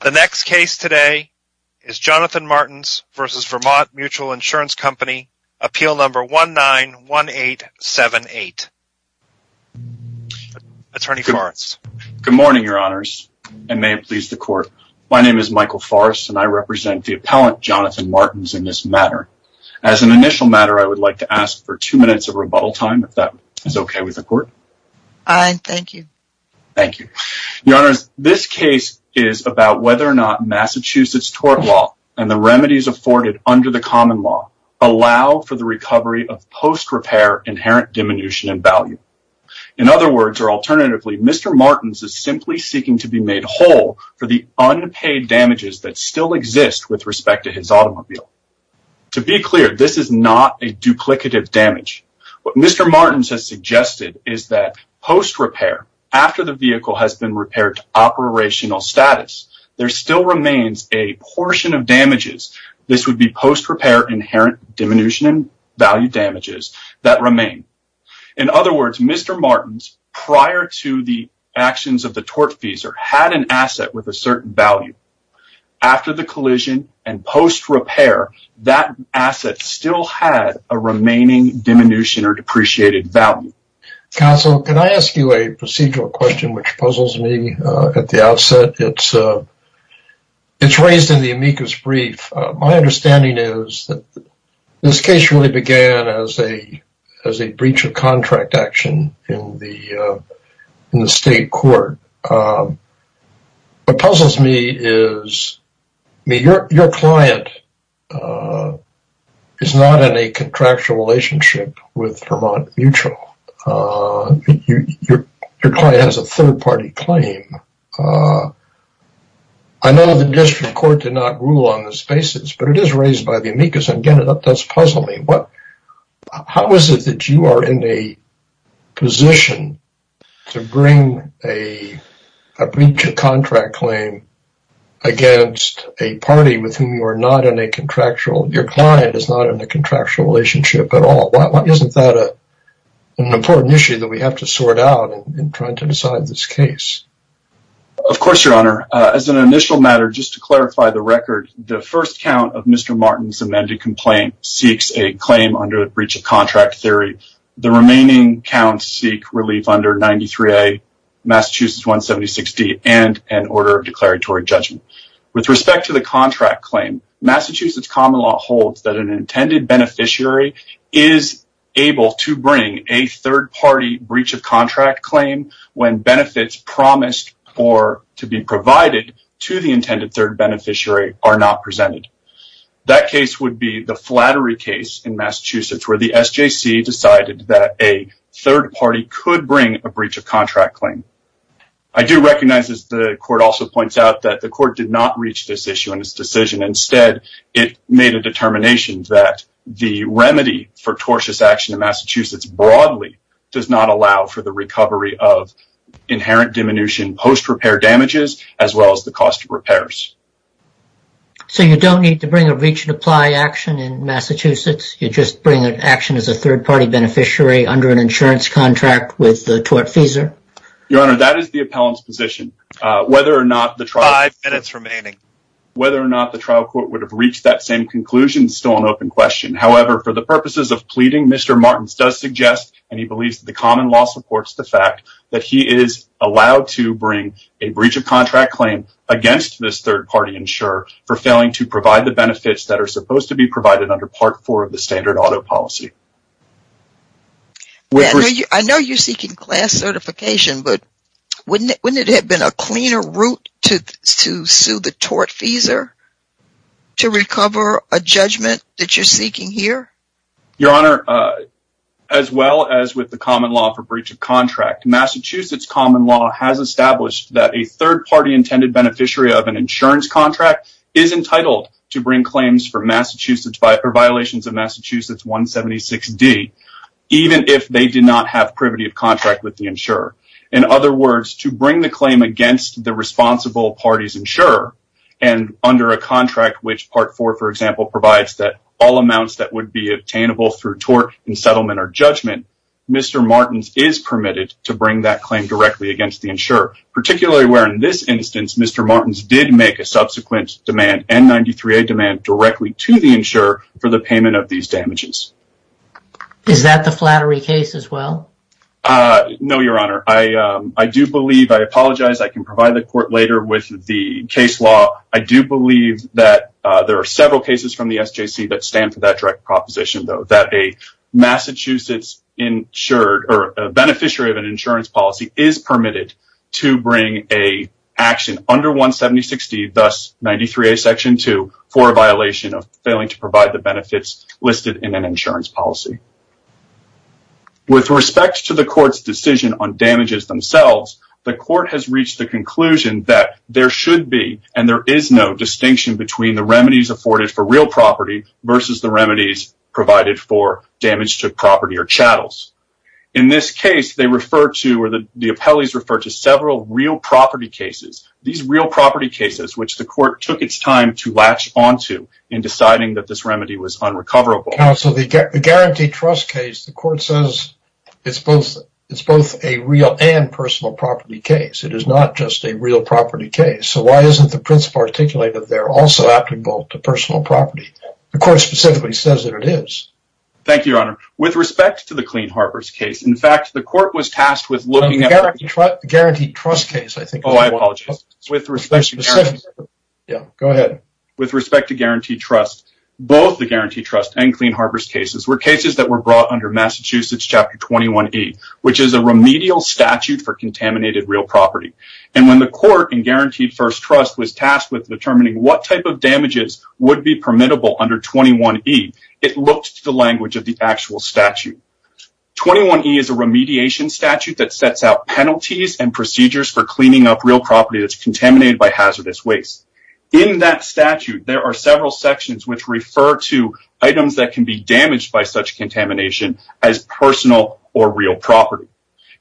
The next case today is Jonathan Martins v. Vermont Mutual Insurance Co. Appeal Number 191878. Attorney Forrest. Good morning, Your Honors, and may it please the Court. My name is Michael Forrest, and I represent the appellant, Jonathan Martins, in this matter. As an initial matter, I would like to ask for two minutes of rebuttal time, if that is okay with the Court. Aye, thank you. Thank you. Your Honors, this case is about whether or not Massachusetts tort law and the remedies afforded under the common law allow for the recovery of post-repair inherent diminution in value. In other words, or alternatively, Mr. Martins is simply seeking to be made whole for the unpaid damages that still exist with respect to his automobile. To be clear, this is not a duplicative damage. What Mr. Martins has suggested is that post-repair, after the vehicle has been repaired to operational status, there still remains a portion of damages, this would be post-repair inherent diminution in value damages, that remain. In other words, Mr. Martins, prior to the actions of the tortfeasor, had an asset with a certain value. After the collision and post-repair, that asset still had a remaining diminution or depreciated value. Counsel, can I ask you a procedural question which puzzles me at the outset? It's raised in the amicus brief. My understanding is that this case really began as a breach of contract action in the state court. What puzzles me is, your client is not in a contractual relationship with Vermont Mutual. Your client has a third-party claim. I know the district court did not rule on this basis, but it is raised by the amicus, and again, that does puzzle me. How is it that you are in a position to bring a breach of contract claim against a party with whom your client is not in a contractual relationship at all? Isn't that an important issue that we have to sort out in trying to decide this case? Of course, your honor. As an initial matter, just to clarify the record, the first count of Mr. Martins' amended complaint seeks a claim under the breach of contract theory. The remaining counts seek relief under 93A, Massachusetts 176D, and an order of declaratory judgment. With respect to the contract claim, Massachusetts common law holds that an intended beneficiary is able to bring a third-party breach of contract claim when benefits promised to be provided to the intended third beneficiary are not presented. That case would be the Flattery case in Massachusetts, where the SJC decided that a third party could bring a breach of contract claim. I do recognize, as the court also points out, that the court did not reach this issue in its decision. Instead, it made a determination that the remedy for tortious action in Massachusetts broadly does not allow for the recovery of inherent diminution post-repair damages as well as the cost of repairs. So you don't need to bring a breach of apply action in Massachusetts? You just bring an action as a third-party beneficiary under an insurance contract with the tortfeasor? Your Honor, that is the appellant's position. Five minutes remaining. Whether or not the trial court would have reached that same conclusion is still an open question. However, for the purposes of pleading, Mr. Martins does suggest, and he believes that the common law supports the fact, that he is allowed to bring a breach of contract claim against this third-party insurer for failing to provide the benefits that are supposed to be provided under Part 4 of the standard auto policy. I know you're seeking class certification, but wouldn't it have been a cleaner route to sue the tortfeasor to recover a judgment that you're seeking here? Your Honor, as well as with the common law for breach of contract, Massachusetts common law has established that a third-party intended beneficiary of an insurance contract is entitled to bring claims for violations of Massachusetts 176D, even if they do not have privity of contract with the insurer. In other words, to bring the claim against the responsible party's insurer, and under a contract which Part 4, for example, provides that all amounts that would be obtainable through tort and settlement or judgment, Mr. Martins is permitted to bring that claim directly against the insurer. Particularly where in this instance, Mr. Martins did make a subsequent demand, N93A demand, directly to the insurer for the payment of these damages. Is that the flattery case as well? No, Your Honor. I apologize, I can provide the court later with the case law. I do believe that there are several cases from the SJC that stand for that direct proposition, though. That a beneficiary of an insurance policy is permitted to bring an action under 176D, thus N93A Section 2, for a violation of failing to provide the benefits listed in an insurance policy. With respect to the court's decision on damages themselves, the court has reached the conclusion that there should be, and there is no distinction between the remedies afforded for real property versus the remedies provided for damage to property or chattels. In this case, they refer to, or the appellees refer to, several real property cases. These real property cases which the court took its time to latch onto in deciding that this remedy was unrecoverable. Now, so the guaranteed trust case, the court says it's both a real and personal property case. It is not just a real property case. So why isn't the principle articulated there also applicable to personal property? The court specifically says that it is. Thank you, Your Honor. With respect to the Clean Harbors case, in fact, the court was tasked with looking at... The guaranteed trust case, I think... Oh, I apologize. With respect to guaranteed... Yeah, go ahead. With respect to guaranteed trust, both the guaranteed trust and Clean Harbors cases were cases that were brought under Massachusetts Chapter 21E, which is a remedial statute for contaminated real property. And when the court in guaranteed first trust was tasked with determining what type of damages would be permittable under 21E, it looked to the language of the actual statute. 21E is a remediation statute that sets out penalties and procedures for cleaning up real property that's contaminated by hazardous waste. In that statute, there are several sections which refer to items that can be damaged by such contamination as personal or real property.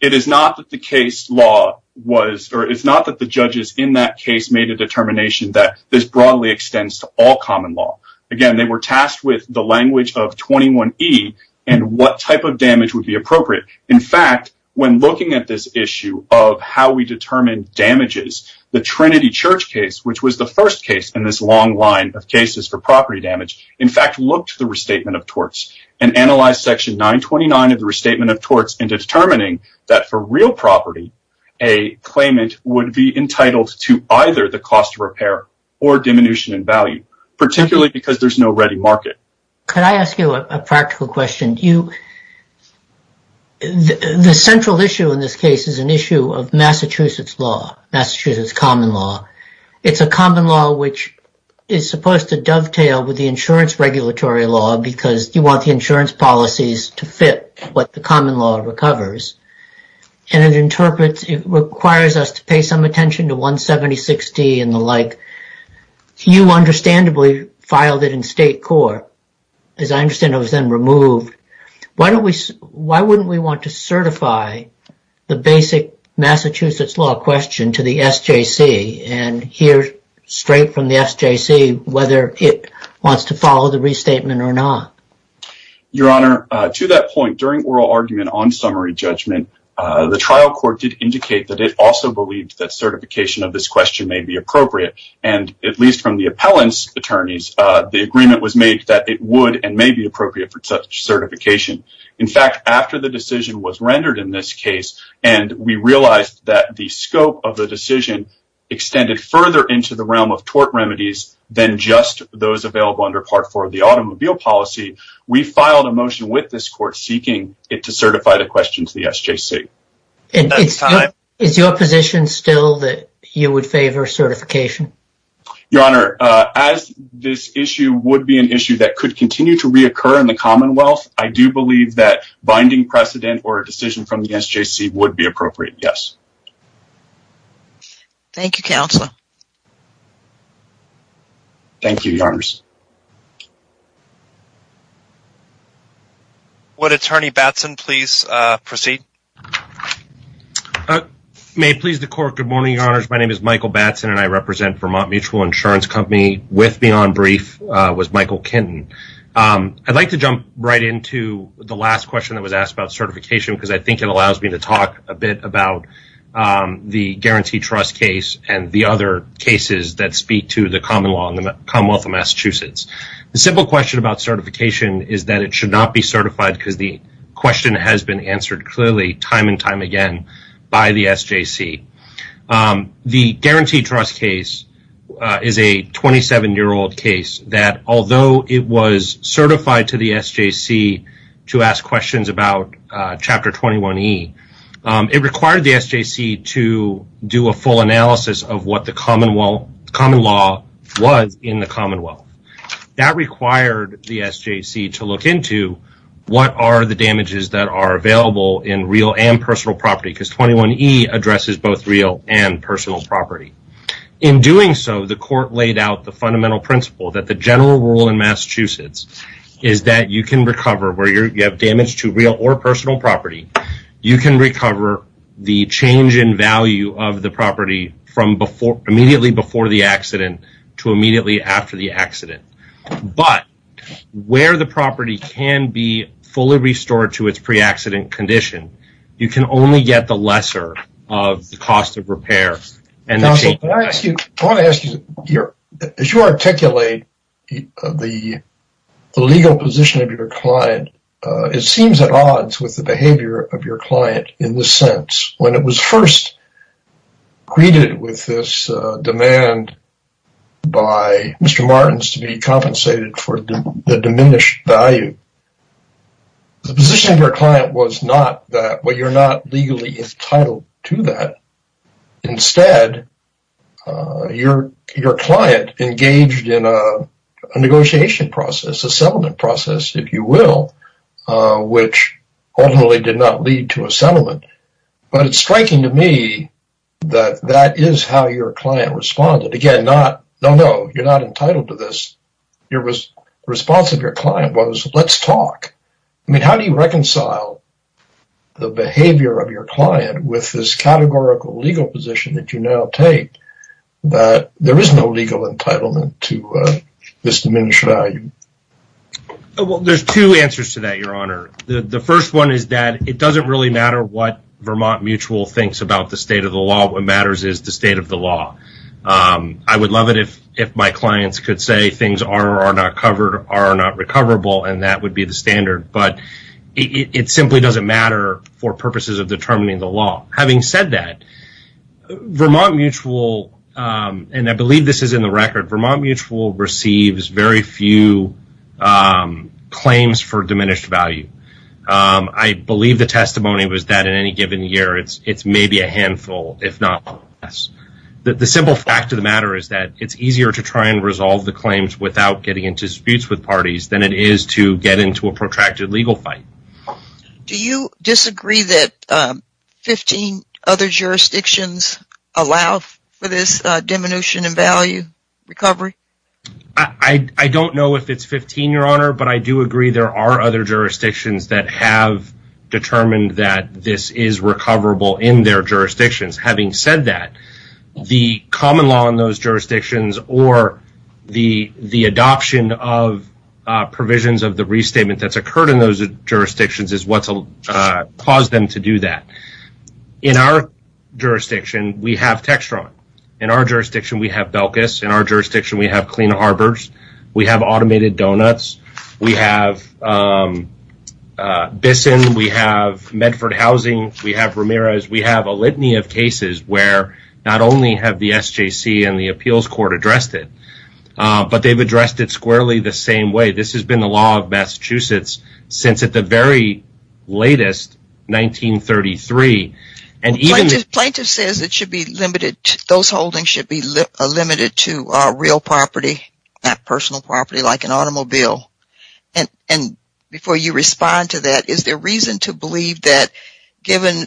It is not that the case law was... Or it's not that the judges in that case made a determination that this broadly extends to all common law. Again, they were tasked with the language of 21E and what type of damage would be appropriate. In fact, when looking at this issue of how we determine damages, the Trinity Church case, which was the first case in this long line of cases for property damage, in fact looked to the restatement of torts and analyzed Section 929 of the restatement of torts into determining that for real property, a claimant would be entitled to either the cost of repair or diminution in value, particularly because there's no ready market. Could I ask you a practical question? The central issue in this case is an issue of Massachusetts law, Massachusetts common law. It's a common law which is supposed to dovetail with the insurance regulatory law because you want the insurance policies to fit what the common law recovers. And it requires us to pay some attention to 176D and the like. You understandably filed it in state court. As I understand, it was then removed. Why wouldn't we want to certify the basic Massachusetts law question to the SJC and hear straight from the SJC whether it wants to follow the restatement or not? Your Honor, to that point, during oral argument on summary judgment, the trial court did indicate that it also believed that certification of this question may be appropriate. And at least from the appellant's attorneys, the agreement was made that it would and may be appropriate for such certification. In fact, after the decision was rendered in this case and we realized that the scope of the decision extended further into the realm of tort remedies than just those available under Part 4 of the automobile policy, we filed a motion with this court seeking it to certify the question to the SJC. Is your position still that you would favor certification? Your Honor, as this issue would be an issue that could continue to reoccur in the Commonwealth, I do believe that binding precedent or a decision from the SJC would be appropriate, yes. Thank you, Counselor. Thank you, Your Honors. Would Attorney Batson please proceed? May it please the Court, good morning, Your Honors. My name is Michael Batson and I represent Vermont Mutual Insurance Company. With me on brief was Michael Kenton. I'd like to jump right into the last question that was asked about certification because I think it allows me to talk a bit about the guaranteed trust case and the other cases that speak to the common law in the Commonwealth of Massachusetts. The simple question about certification is that it should not be certified because the question has been answered clearly time and time again by the SJC. The guaranteed trust case is a 27-year-old case that although it was certified to the SJC to ask questions about Chapter 21E, it required the SJC to do a full analysis of what the common law was in the Commonwealth. That required the SJC to look into what are the damages that are available in real and personal property because 21E addresses both real and personal property. In doing so, the court laid out the fundamental principle that the general rule in Massachusetts is that you can recover where you have damage to real or personal property. You can recover the change in value of the property from immediately before the accident to immediately after the accident. But where the property can be fully restored to its pre-accident condition, you can only get the lesser of the cost of repair. As you articulate the legal position of your client, it seems at odds with the behavior of your client in the sense that when it was first greeted with this demand by Mr. Martens to be compensated for the diminished value, the position of your client was not that you're not legally entitled to that. Instead, your client engaged in a negotiation process, a settlement process, if you will, which ultimately did not lead to a settlement. But it's striking to me that that is how your client responded. Again, you're not entitled to this. The response of your client was, let's talk. How do you reconcile the behavior of your client with this categorical legal position that you now take that there is no legal entitlement to this diminished value? There are two answers to that, Your Honor. The first one is that it doesn't really matter what Vermont Mutual thinks about the state of the law. I would love it if my clients could say things are or are not covered, are or are not recoverable, and that would be the standard. But it simply doesn't matter for purposes of determining the law. Having said that, Vermont Mutual, and I believe this is in the record, Vermont Mutual receives very few claims for diminished value. I believe the testimony was that in any given year, it's maybe a handful. The simple fact of the matter is that it's easier to try and resolve the claims without getting into disputes with parties than it is to get into a protracted legal fight. Do you disagree that 15 other jurisdictions allow for this diminution in value recovery? I don't know if it's 15, Your Honor, but I do agree there are other jurisdictions that have determined that this is recoverable in their jurisdictions. Having said that, the common law in those jurisdictions or the adoption of provisions of the restatement that's occurred in those jurisdictions is what's caused them to do that. In our jurisdiction, we have Textron. In our jurisdiction, we have Belkis. In our jurisdiction, we have Clean Harbors. We have Automated Donuts. We have Bissen. We have Medford Housing. We have Ramirez. We have a litany of cases where not only have the SJC and the appeals court addressed it, but they've addressed it squarely the same way. This has been the law of Massachusetts since at the very latest, 1933. Plaintiff says those holdings should be limited to real property, not personal property like an automobile. Before you respond to that, is there reason to believe that given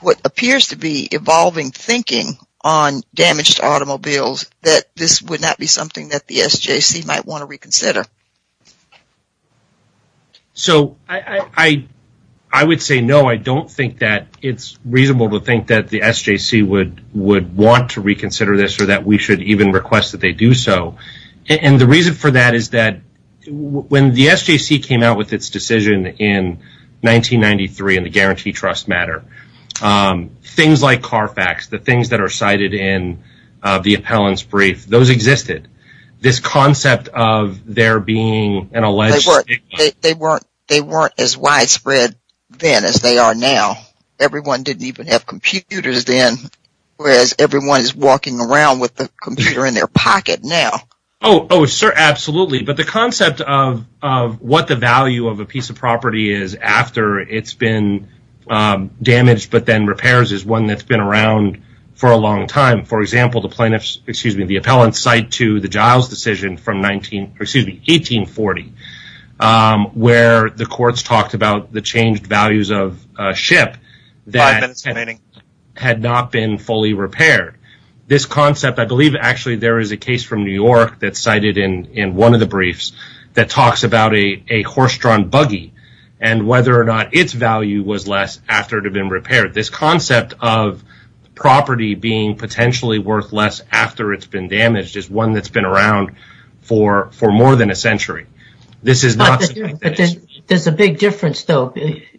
what appears to be evolving thinking on damaged automobiles, that this would not be something that the SJC might want to reconsider? I would say no. I don't think that it's reasonable to think that the SJC would want to reconsider this or that we should even request that they do so. The reason for that is that when the SJC came out with its decision in 1993 in the Guarantee Trust Matter, things like CARFAX, the things that are cited in the appellant's brief, those existed. This concept of there being an alleged stigma. They weren't as widespread then as they are now. Everyone didn't even have computers then, whereas everyone is walking around with a computer in their pocket now. Absolutely. The concept of what the value of a piece of property is after it's been damaged but then repairs is one that's been around for a long time. For example, the appellant's cite to the Giles decision from 1840 where the courts talked about the changed values of a ship that had not been fully repaired. This concept, I believe actually there is a case from New York that's cited in one of the briefs that talks about a horse-drawn buggy and whether or not its value was less after it had been repaired. This concept of property being potentially worth less after it's been damaged is one that's been around for more than a century. There's a big difference though.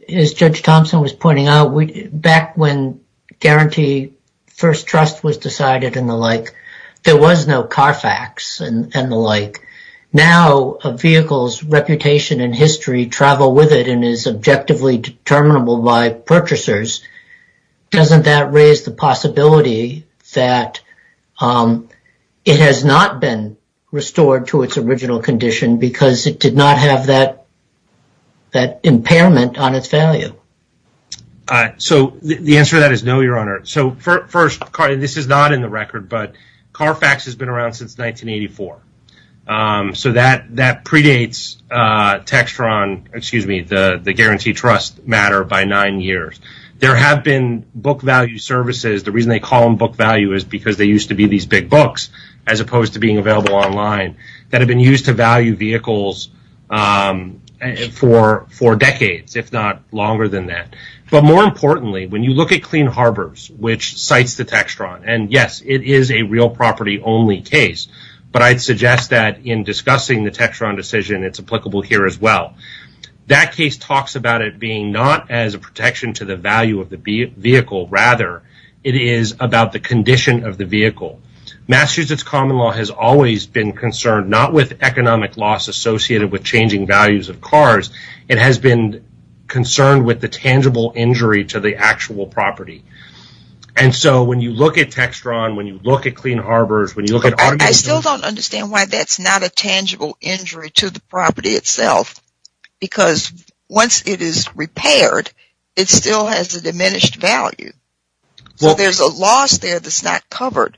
As Judge Thompson was pointing out, back when Guarantee First Trust was decided and the like, there was no CARFAX and the like. Now, a vehicle's reputation and history travel with it and is objectively determinable by purchasers, doesn't that raise the possibility that it has not been restored to its original condition because it did not have that impairment on its value? The answer to that is no, Your Honor. This is not in the record, but CARFAX has been around since 1984. That predates the Guarantee Trust matter by nine years. There have been book value services. The reason they call them book value is because they used to be these big books as opposed to being available online that have been used to value vehicles for decades, if not longer than that. More importantly, when you look at Clean Harbors, which cites the Textron, and yes, it is a real property only case, but I'd suggest that in discussing the Textron decision, it's applicable here as well. That case talks about it being not as a protection to the value of the vehicle. Rather, it is about the condition of the vehicle. Massachusetts common law has always been concerned not with economic loss associated with changing values of cars. It has been concerned with the tangible injury to the actual property. When you look at Textron, when you look at Clean Harbors, when you look at automobiles... I still don't understand why that's not a tangible injury to the property itself because once it is repaired, it still has a diminished value. There's a loss there that's not covered.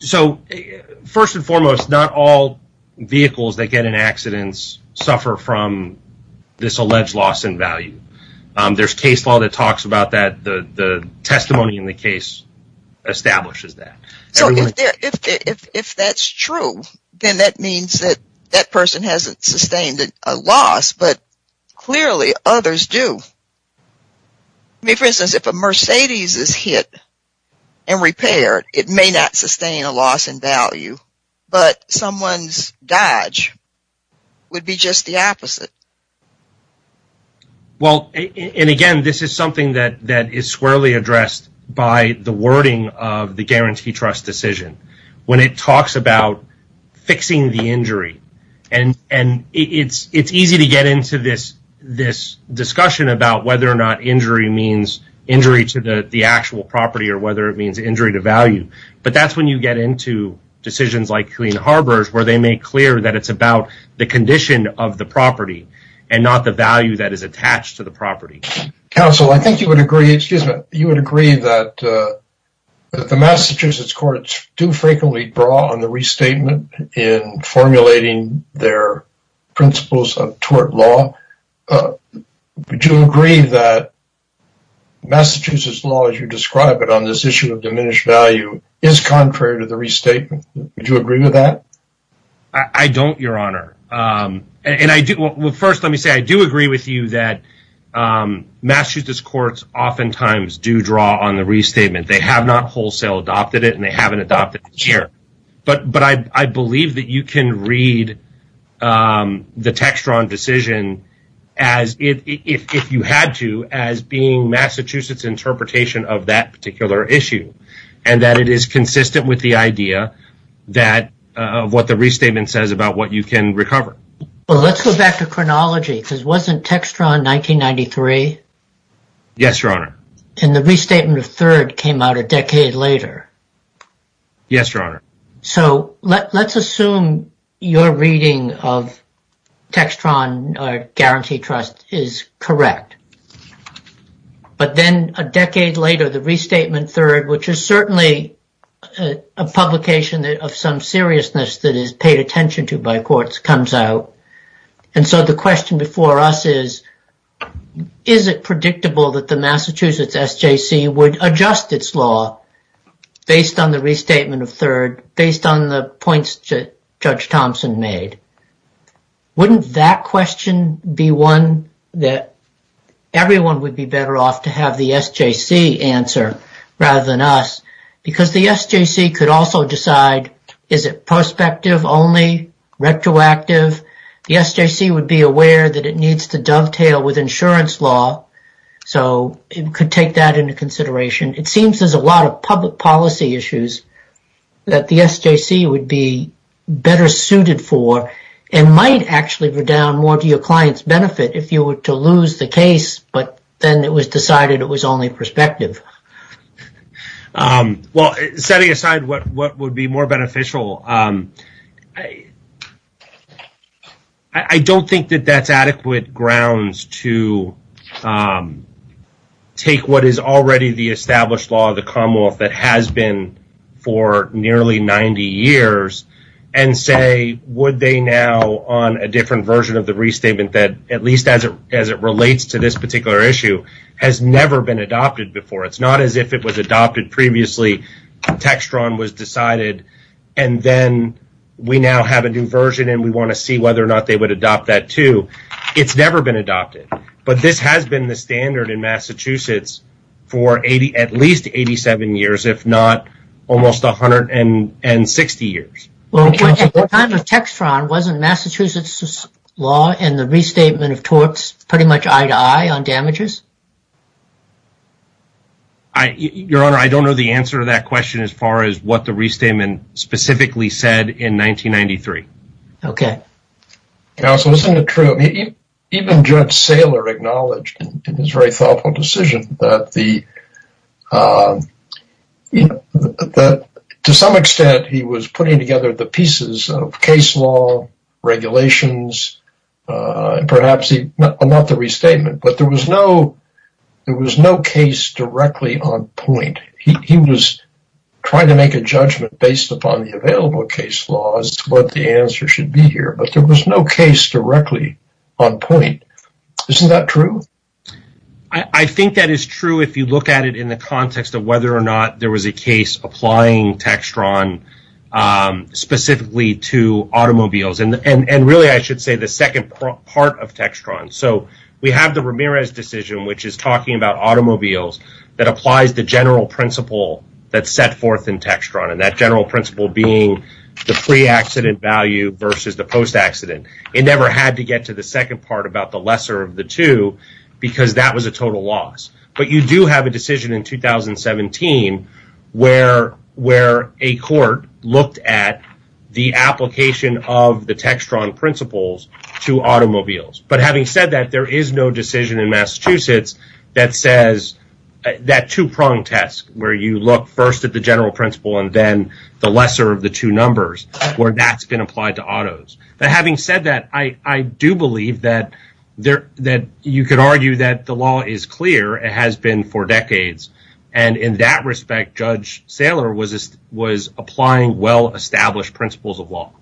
First and foremost, not all vehicles that get in accidents suffer from this alleged loss in value. There's case law that talks about that. The testimony in the case establishes that. If that's true, then that means that that person hasn't sustained a loss, but clearly others do. For instance, if a Mercedes is hit and repaired, it may not sustain a loss in value, but someone's Dodge would be just the opposite. Again, this is something that is squarely addressed by the wording of the Guarantee Trust decision when it talks about fixing the injury. It's easy to get into this discussion about whether or not injury means injury to the actual property or whether it means injury to value. That's when you get into decisions like Clean Harbors where they make clear that it's about the condition of the property and not the value that is attached to the property. Counsel, I think you would agree that the Massachusetts courts do frequently draw on the restatement in formulating their principles of tort law. Would you agree that Massachusetts law, as you describe it on this issue of diminished value, is contrary to the restatement? Would you agree with that? I don't, Your Honor. First, let me say I do agree with you that Massachusetts courts oftentimes do draw on the restatement. They have not wholesale adopted it, and they haven't adopted it here. I believe that you can read the Textron decision, if you had to, as being Massachusetts' interpretation of that particular issue and that it is consistent with the idea of what the restatement says about what you can recover. Let's go back to chronology because wasn't Textron 1993? Yes, Your Honor. The restatement of 3rd came out a decade later. Yes, Your Honor. Let's assume your reading of Textron guarantee trust is correct, but then a decade later, the restatement 3rd, which is certainly a publication of some seriousness that is paid attention to by courts, comes out. The question before us is, is it predictable that the Massachusetts SJC would adjust its law based on the restatement of 3rd, based on the points Judge Thompson made? Wouldn't that question be one that everyone would be better off to have the SJC answer rather than us? Because the SJC could also decide, is it prospective only, retroactive? The SJC would be aware that it needs to dovetail with insurance law, so it could take that into consideration. It seems there's a lot of public policy issues that the SJC would be better suited for and might actually redound more to your client's benefit if you were to lose the case but then it was decided it was only prospective. Setting aside what would be more beneficial, I don't think that that's adequate grounds to take what is already the established law of the Commonwealth that has been for nearly 90 years and say, would they now on a different version of the restatement that, at least as it relates to this particular issue, has never been adopted before? It's not as if it was adopted previously, Textron was decided, and then we now have a new version and we want to see whether or not they would adopt that too. It's never been adopted, but this has been the standard in Massachusetts for at least 87 years, if not almost 160 years. At the time of Textron, wasn't Massachusetts' law and the restatement of torts pretty much eye-to-eye on damages? Your Honor, I don't know the answer to that question as far as what the restatement specifically said in 1993. Counsel, isn't it true, even Judge Saylor acknowledged in his very thoughtful decision that to some extent he was putting together the pieces of case law, regulations, and perhaps not the restatement, but there was no case directly on point. He was trying to make a judgment based upon the available case law as to what the answer should be here, but there was no case directly on point. Isn't that true? I think that is true if you look at it in the context of whether or not there was a case applying Textron specifically to automobiles, and really I should say the second part of Textron. We have the Ramirez decision, which is talking about automobiles that applies the general principle that's set forth in Textron, and that general principle being the pre-accident value versus the post-accident. It never had to get to the second part about the lesser of the two because that was a total loss, but you do have a decision in 2017 where a court looked at the application of the Textron principles to automobiles. Having said that, there is no decision in Massachusetts that says that two-pronged test where you look first at the general principle and then the lesser of the two numbers where that's been applied to autos. Having said that, I do believe that you could argue that the law is clear. It has been for decades, and in that respect, Judge Saylor was applying well-established principles of law.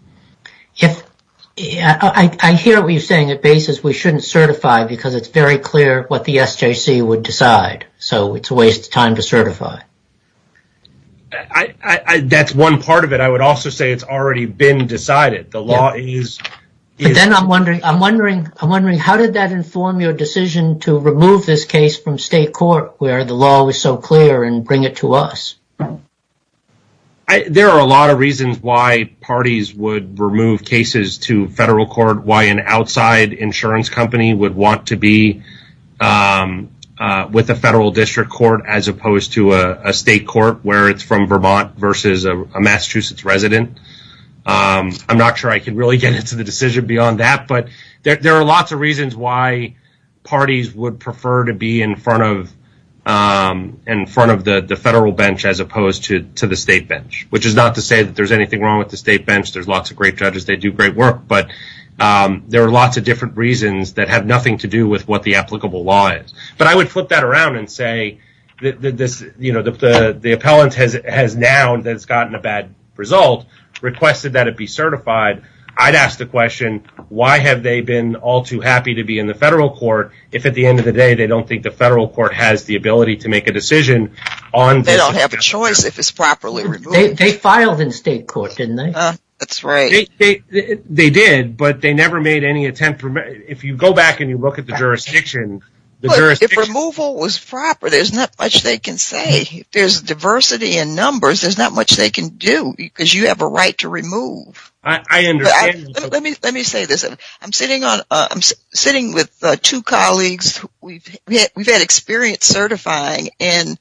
I hear what you're saying. At BASIS, we shouldn't certify because it's very clear what the SJC would decide, so it's a waste of time to certify. That's one part of it. I would also say it's already been decided. But then I'm wondering how did that inform your decision to remove this case from state court where the law was so clear and bring it to us? There are a lot of reasons why parties would remove cases to federal court, why an outside insurance company would want to be with a federal district court as opposed to a state court where it's from Vermont versus a Massachusetts resident. I'm not sure I can really get into the decision beyond that, but there are lots of reasons why parties would prefer to be in front of the federal bench as opposed to the state bench, which is not to say that there's anything wrong with the state bench. There's lots of great judges. They do great work, but there are lots of different reasons that have nothing to do with what the applicable law is. I would flip that around and say the appellant has now gotten a bad result, requested that it be certified. I'd ask the question, why have they been all too happy to be in the federal court if at the end of the day, they don't think the federal court has the ability to make a decision on this? They don't have a choice if it's properly removed. They filed in state court, didn't they? That's right. They did, but they never made any attempt. If you go back and you look at the jurisdiction… If removal was proper, there's not much they can say. If there's diversity in numbers, there's not much they can do because you have a right to remove. I understand. Let me say this. I'm sitting with two colleagues. We've had experience certifying, and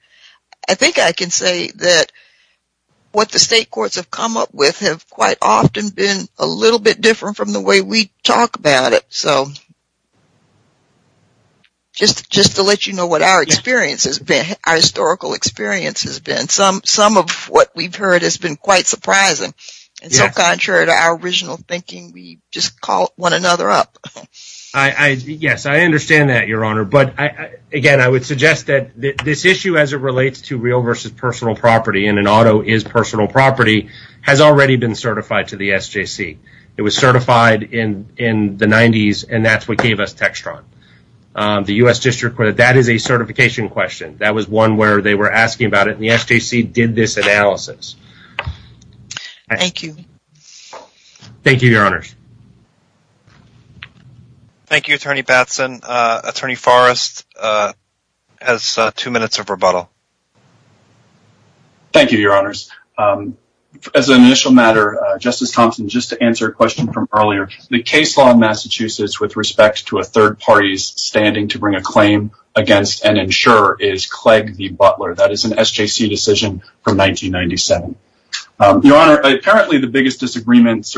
I think I can say that what the state courts have come up with have quite often been a little bit different from the way we talk about it. Just to let you know what our experience has been, our historical experience has been. Some of what we've heard has been quite surprising. Contrary to our original thinking, we just call one another up. Yes, I understand that, Your Honor. Again, I would suggest that this issue as it relates to real versus personal property and an auto is personal property has already been certified to the SJC. It was certified in the 90s, and that's what gave us Textron. The U.S. District Court, that is a certification question. That was one where they were asking about it, and the SJC did this analysis. Thank you. Thank you, Your Honors. Thank you, Attorney Batson. Attorney Forrest has two minutes of rebuttal. Thank you, Your Honors. As an initial matter, Justice Thompson, just to answer a question from earlier, the case law in Massachusetts with respect to a third party's standing to bring a claim against and ensure is Clegg v. Butler. That is an SJC decision from 1997. Your Honor, apparently the biggest disagreements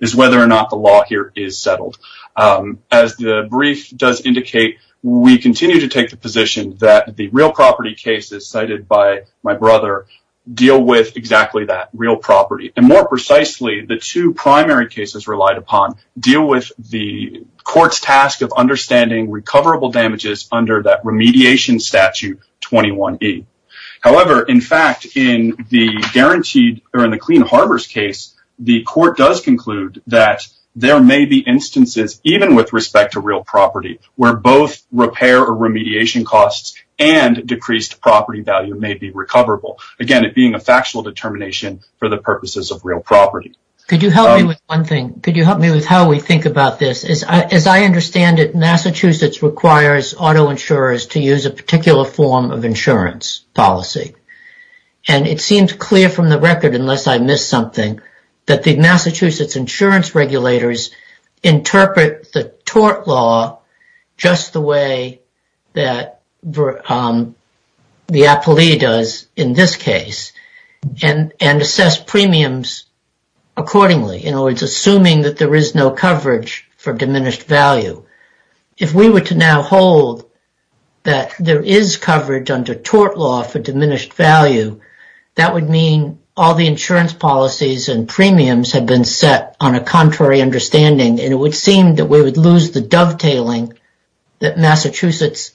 is whether or not the law here is settled. As the brief does indicate, we continue to take the position that the real property cases cited by my brother deal with exactly that, real property. More precisely, the two primary cases relied upon deal with the court's task of understanding recoverable damages under that remediation statute 21E. However, in fact, in the Clean Harbors case, the court does conclude that there may be instances, even with respect to real property, where both repair or remediation costs and decreased property value may be recoverable. Again, it being a factual determination for the purposes of real property. Could you help me with one thing? Could you help me with how we think about this? As I understand it, Massachusetts requires auto insurers to use a particular form of insurance policy. It seems clear from the record, unless I missed something, that the Massachusetts insurance regulators interpret the tort law just the way that the appellee does in this case and assess premiums accordingly. In other words, assuming that there is no coverage for diminished value. If we were to now hold that there is coverage under tort law for diminished value, that would mean all the insurance policies and premiums have been set on a contrary understanding. It would seem that we would lose the dovetailing that Massachusetts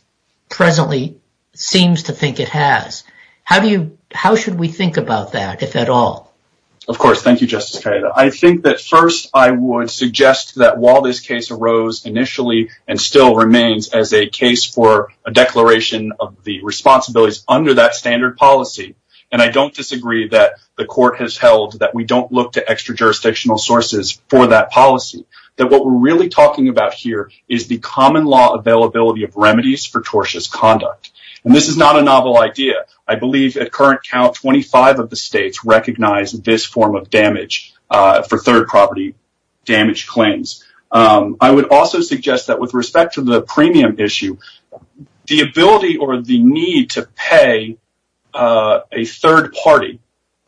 presently seems to think it has. How should we think about that, if at all? Of course. Thank you, Justice Carida. I think that first I would suggest that while this case arose initially and still remains as a case for a declaration of the responsibilities under that standard policy, and I don't disagree that the court has held that we don't look to extra-jurisdictional sources for that policy, that what we're really talking about here is the common law availability of remedies for tortious conduct. This is not a novel idea. I believe at current count, 25 of the states recognize this form of damage for third-property damage claims. I would also suggest that with respect to the premium issue, the ability or the need to pay a third party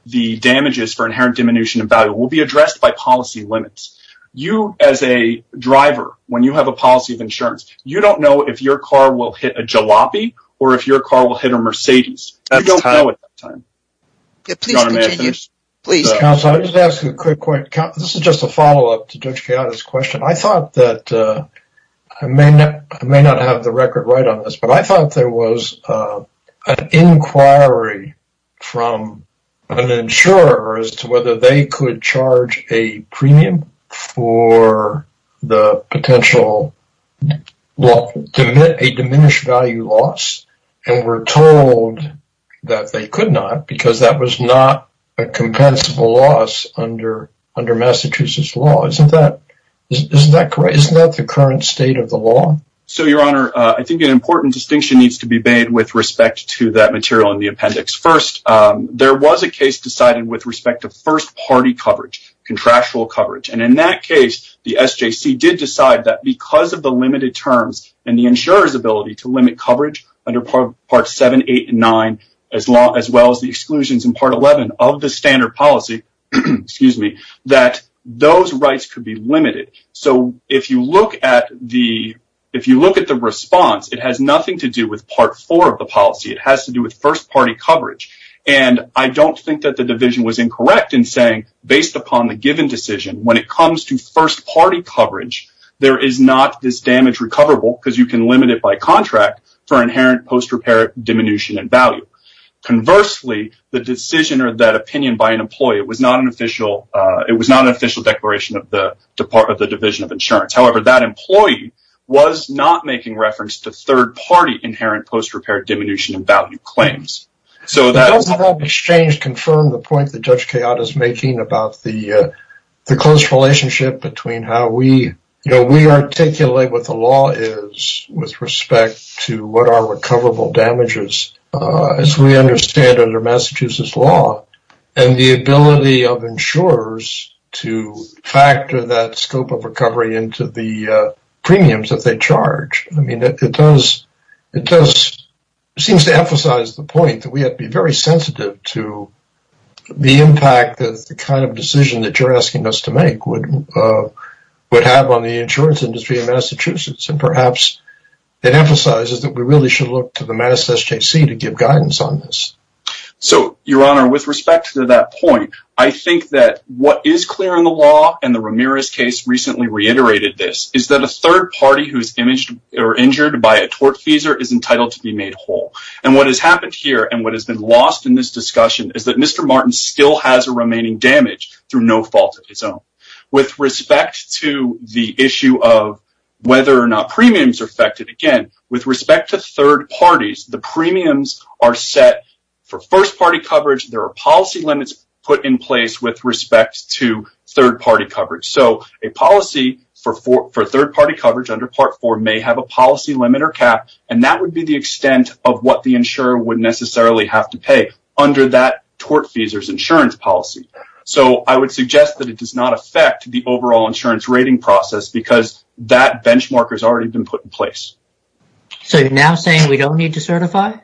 the damages for inherent diminution of value will be addressed by policy limits. You, as a driver, when you have a policy of insurance, you don't know if your car will hit a jalopy or if your car will hit a Mercedes. You don't know at that time. Your Honor, may I finish? Please. Counsel, I'll just ask you a quick point. This is just a follow-up to Judge Carida's question. I may not have the record right on this, but I thought there was an inquiry from an insurer as to whether they could charge a premium for a diminished value loss, and were told that they could not because that was not a compensable loss under Massachusetts law. Isn't that the current state of the law? Your Honor, I think an important distinction needs to be made with respect to that material in the appendix. First, there was a case decided with respect to first-party coverage, contractual coverage. In that case, the SJC did decide that because of the limited terms and the insurer's ability to limit coverage under Parts 7, 8, and 9, as well as the exclusions in Part 11 of the standard policy, that those rights could be limited. If you look at the response, it has nothing to do with Part 4 of the policy. It has to do with first-party coverage. I don't think that the division was incorrect in saying, based upon the given decision, when it comes to first-party coverage, there is not this damage recoverable because you can limit it by contract for inherent post-repair diminution in value. Conversely, the decision or that opinion by an employee, it was not an official declaration of the Division of Insurance. However, that employee was not making reference to third-party inherent post-repair diminution in value claims. Does that exchange confirm the point that Judge Kayotta is making about the close relationship between how we articulate what the law is with respect to what are recoverable damages, as we understand under Massachusetts law, and the ability of insurers to factor that scope of recovery into the premiums that they charge? It seems to emphasize the point that we have to be very sensitive to the impact that the kind of decision that you're asking us to make would have on the insurance industry in Massachusetts. Perhaps, it emphasizes that we really should look to the Mass SJC to give guidance on this. Your Honor, with respect to that point, I think that what is clear in the law, and the Ramirez case recently reiterated this, is that a third party who is injured by a tortfeasor is entitled to be made whole. What has happened here, and what has been lost in this discussion, is that Mr. Martin still has a remaining damage through no fault of his own. With respect to the issue of whether or not premiums are affected, again, with respect to third parties, the premiums are set for first-party coverage. There are policy limits put in place with respect to third-party coverage. A policy for third-party coverage under Part 4 may have a policy limit or cap, and that would be the extent of what the insurer would necessarily have to pay under that tortfeasor's insurance policy. I would suggest that it does not affect the overall insurance rating process because that benchmark has already been put in place. So, you're now saying we don't need to certify?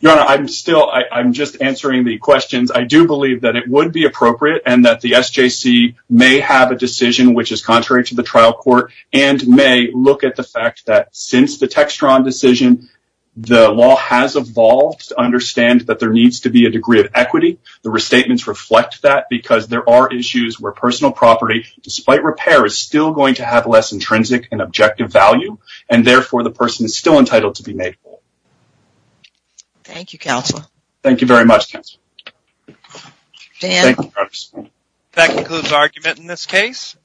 Your Honor, I'm still just answering the questions. I do believe that it would be appropriate and that the SJC may have a decision which is contrary to the trial court, and may look at the fact that since the Textron decision, the law has evolved to understand that there needs to be a degree of equity. The restatements reflect that because there are issues where personal property, despite repair, is still going to have less intrinsic and objective value, and therefore the person is still entitled to be made whole. Thank you, Counselor. Thank you very much, Counselor. That concludes our argument in this case.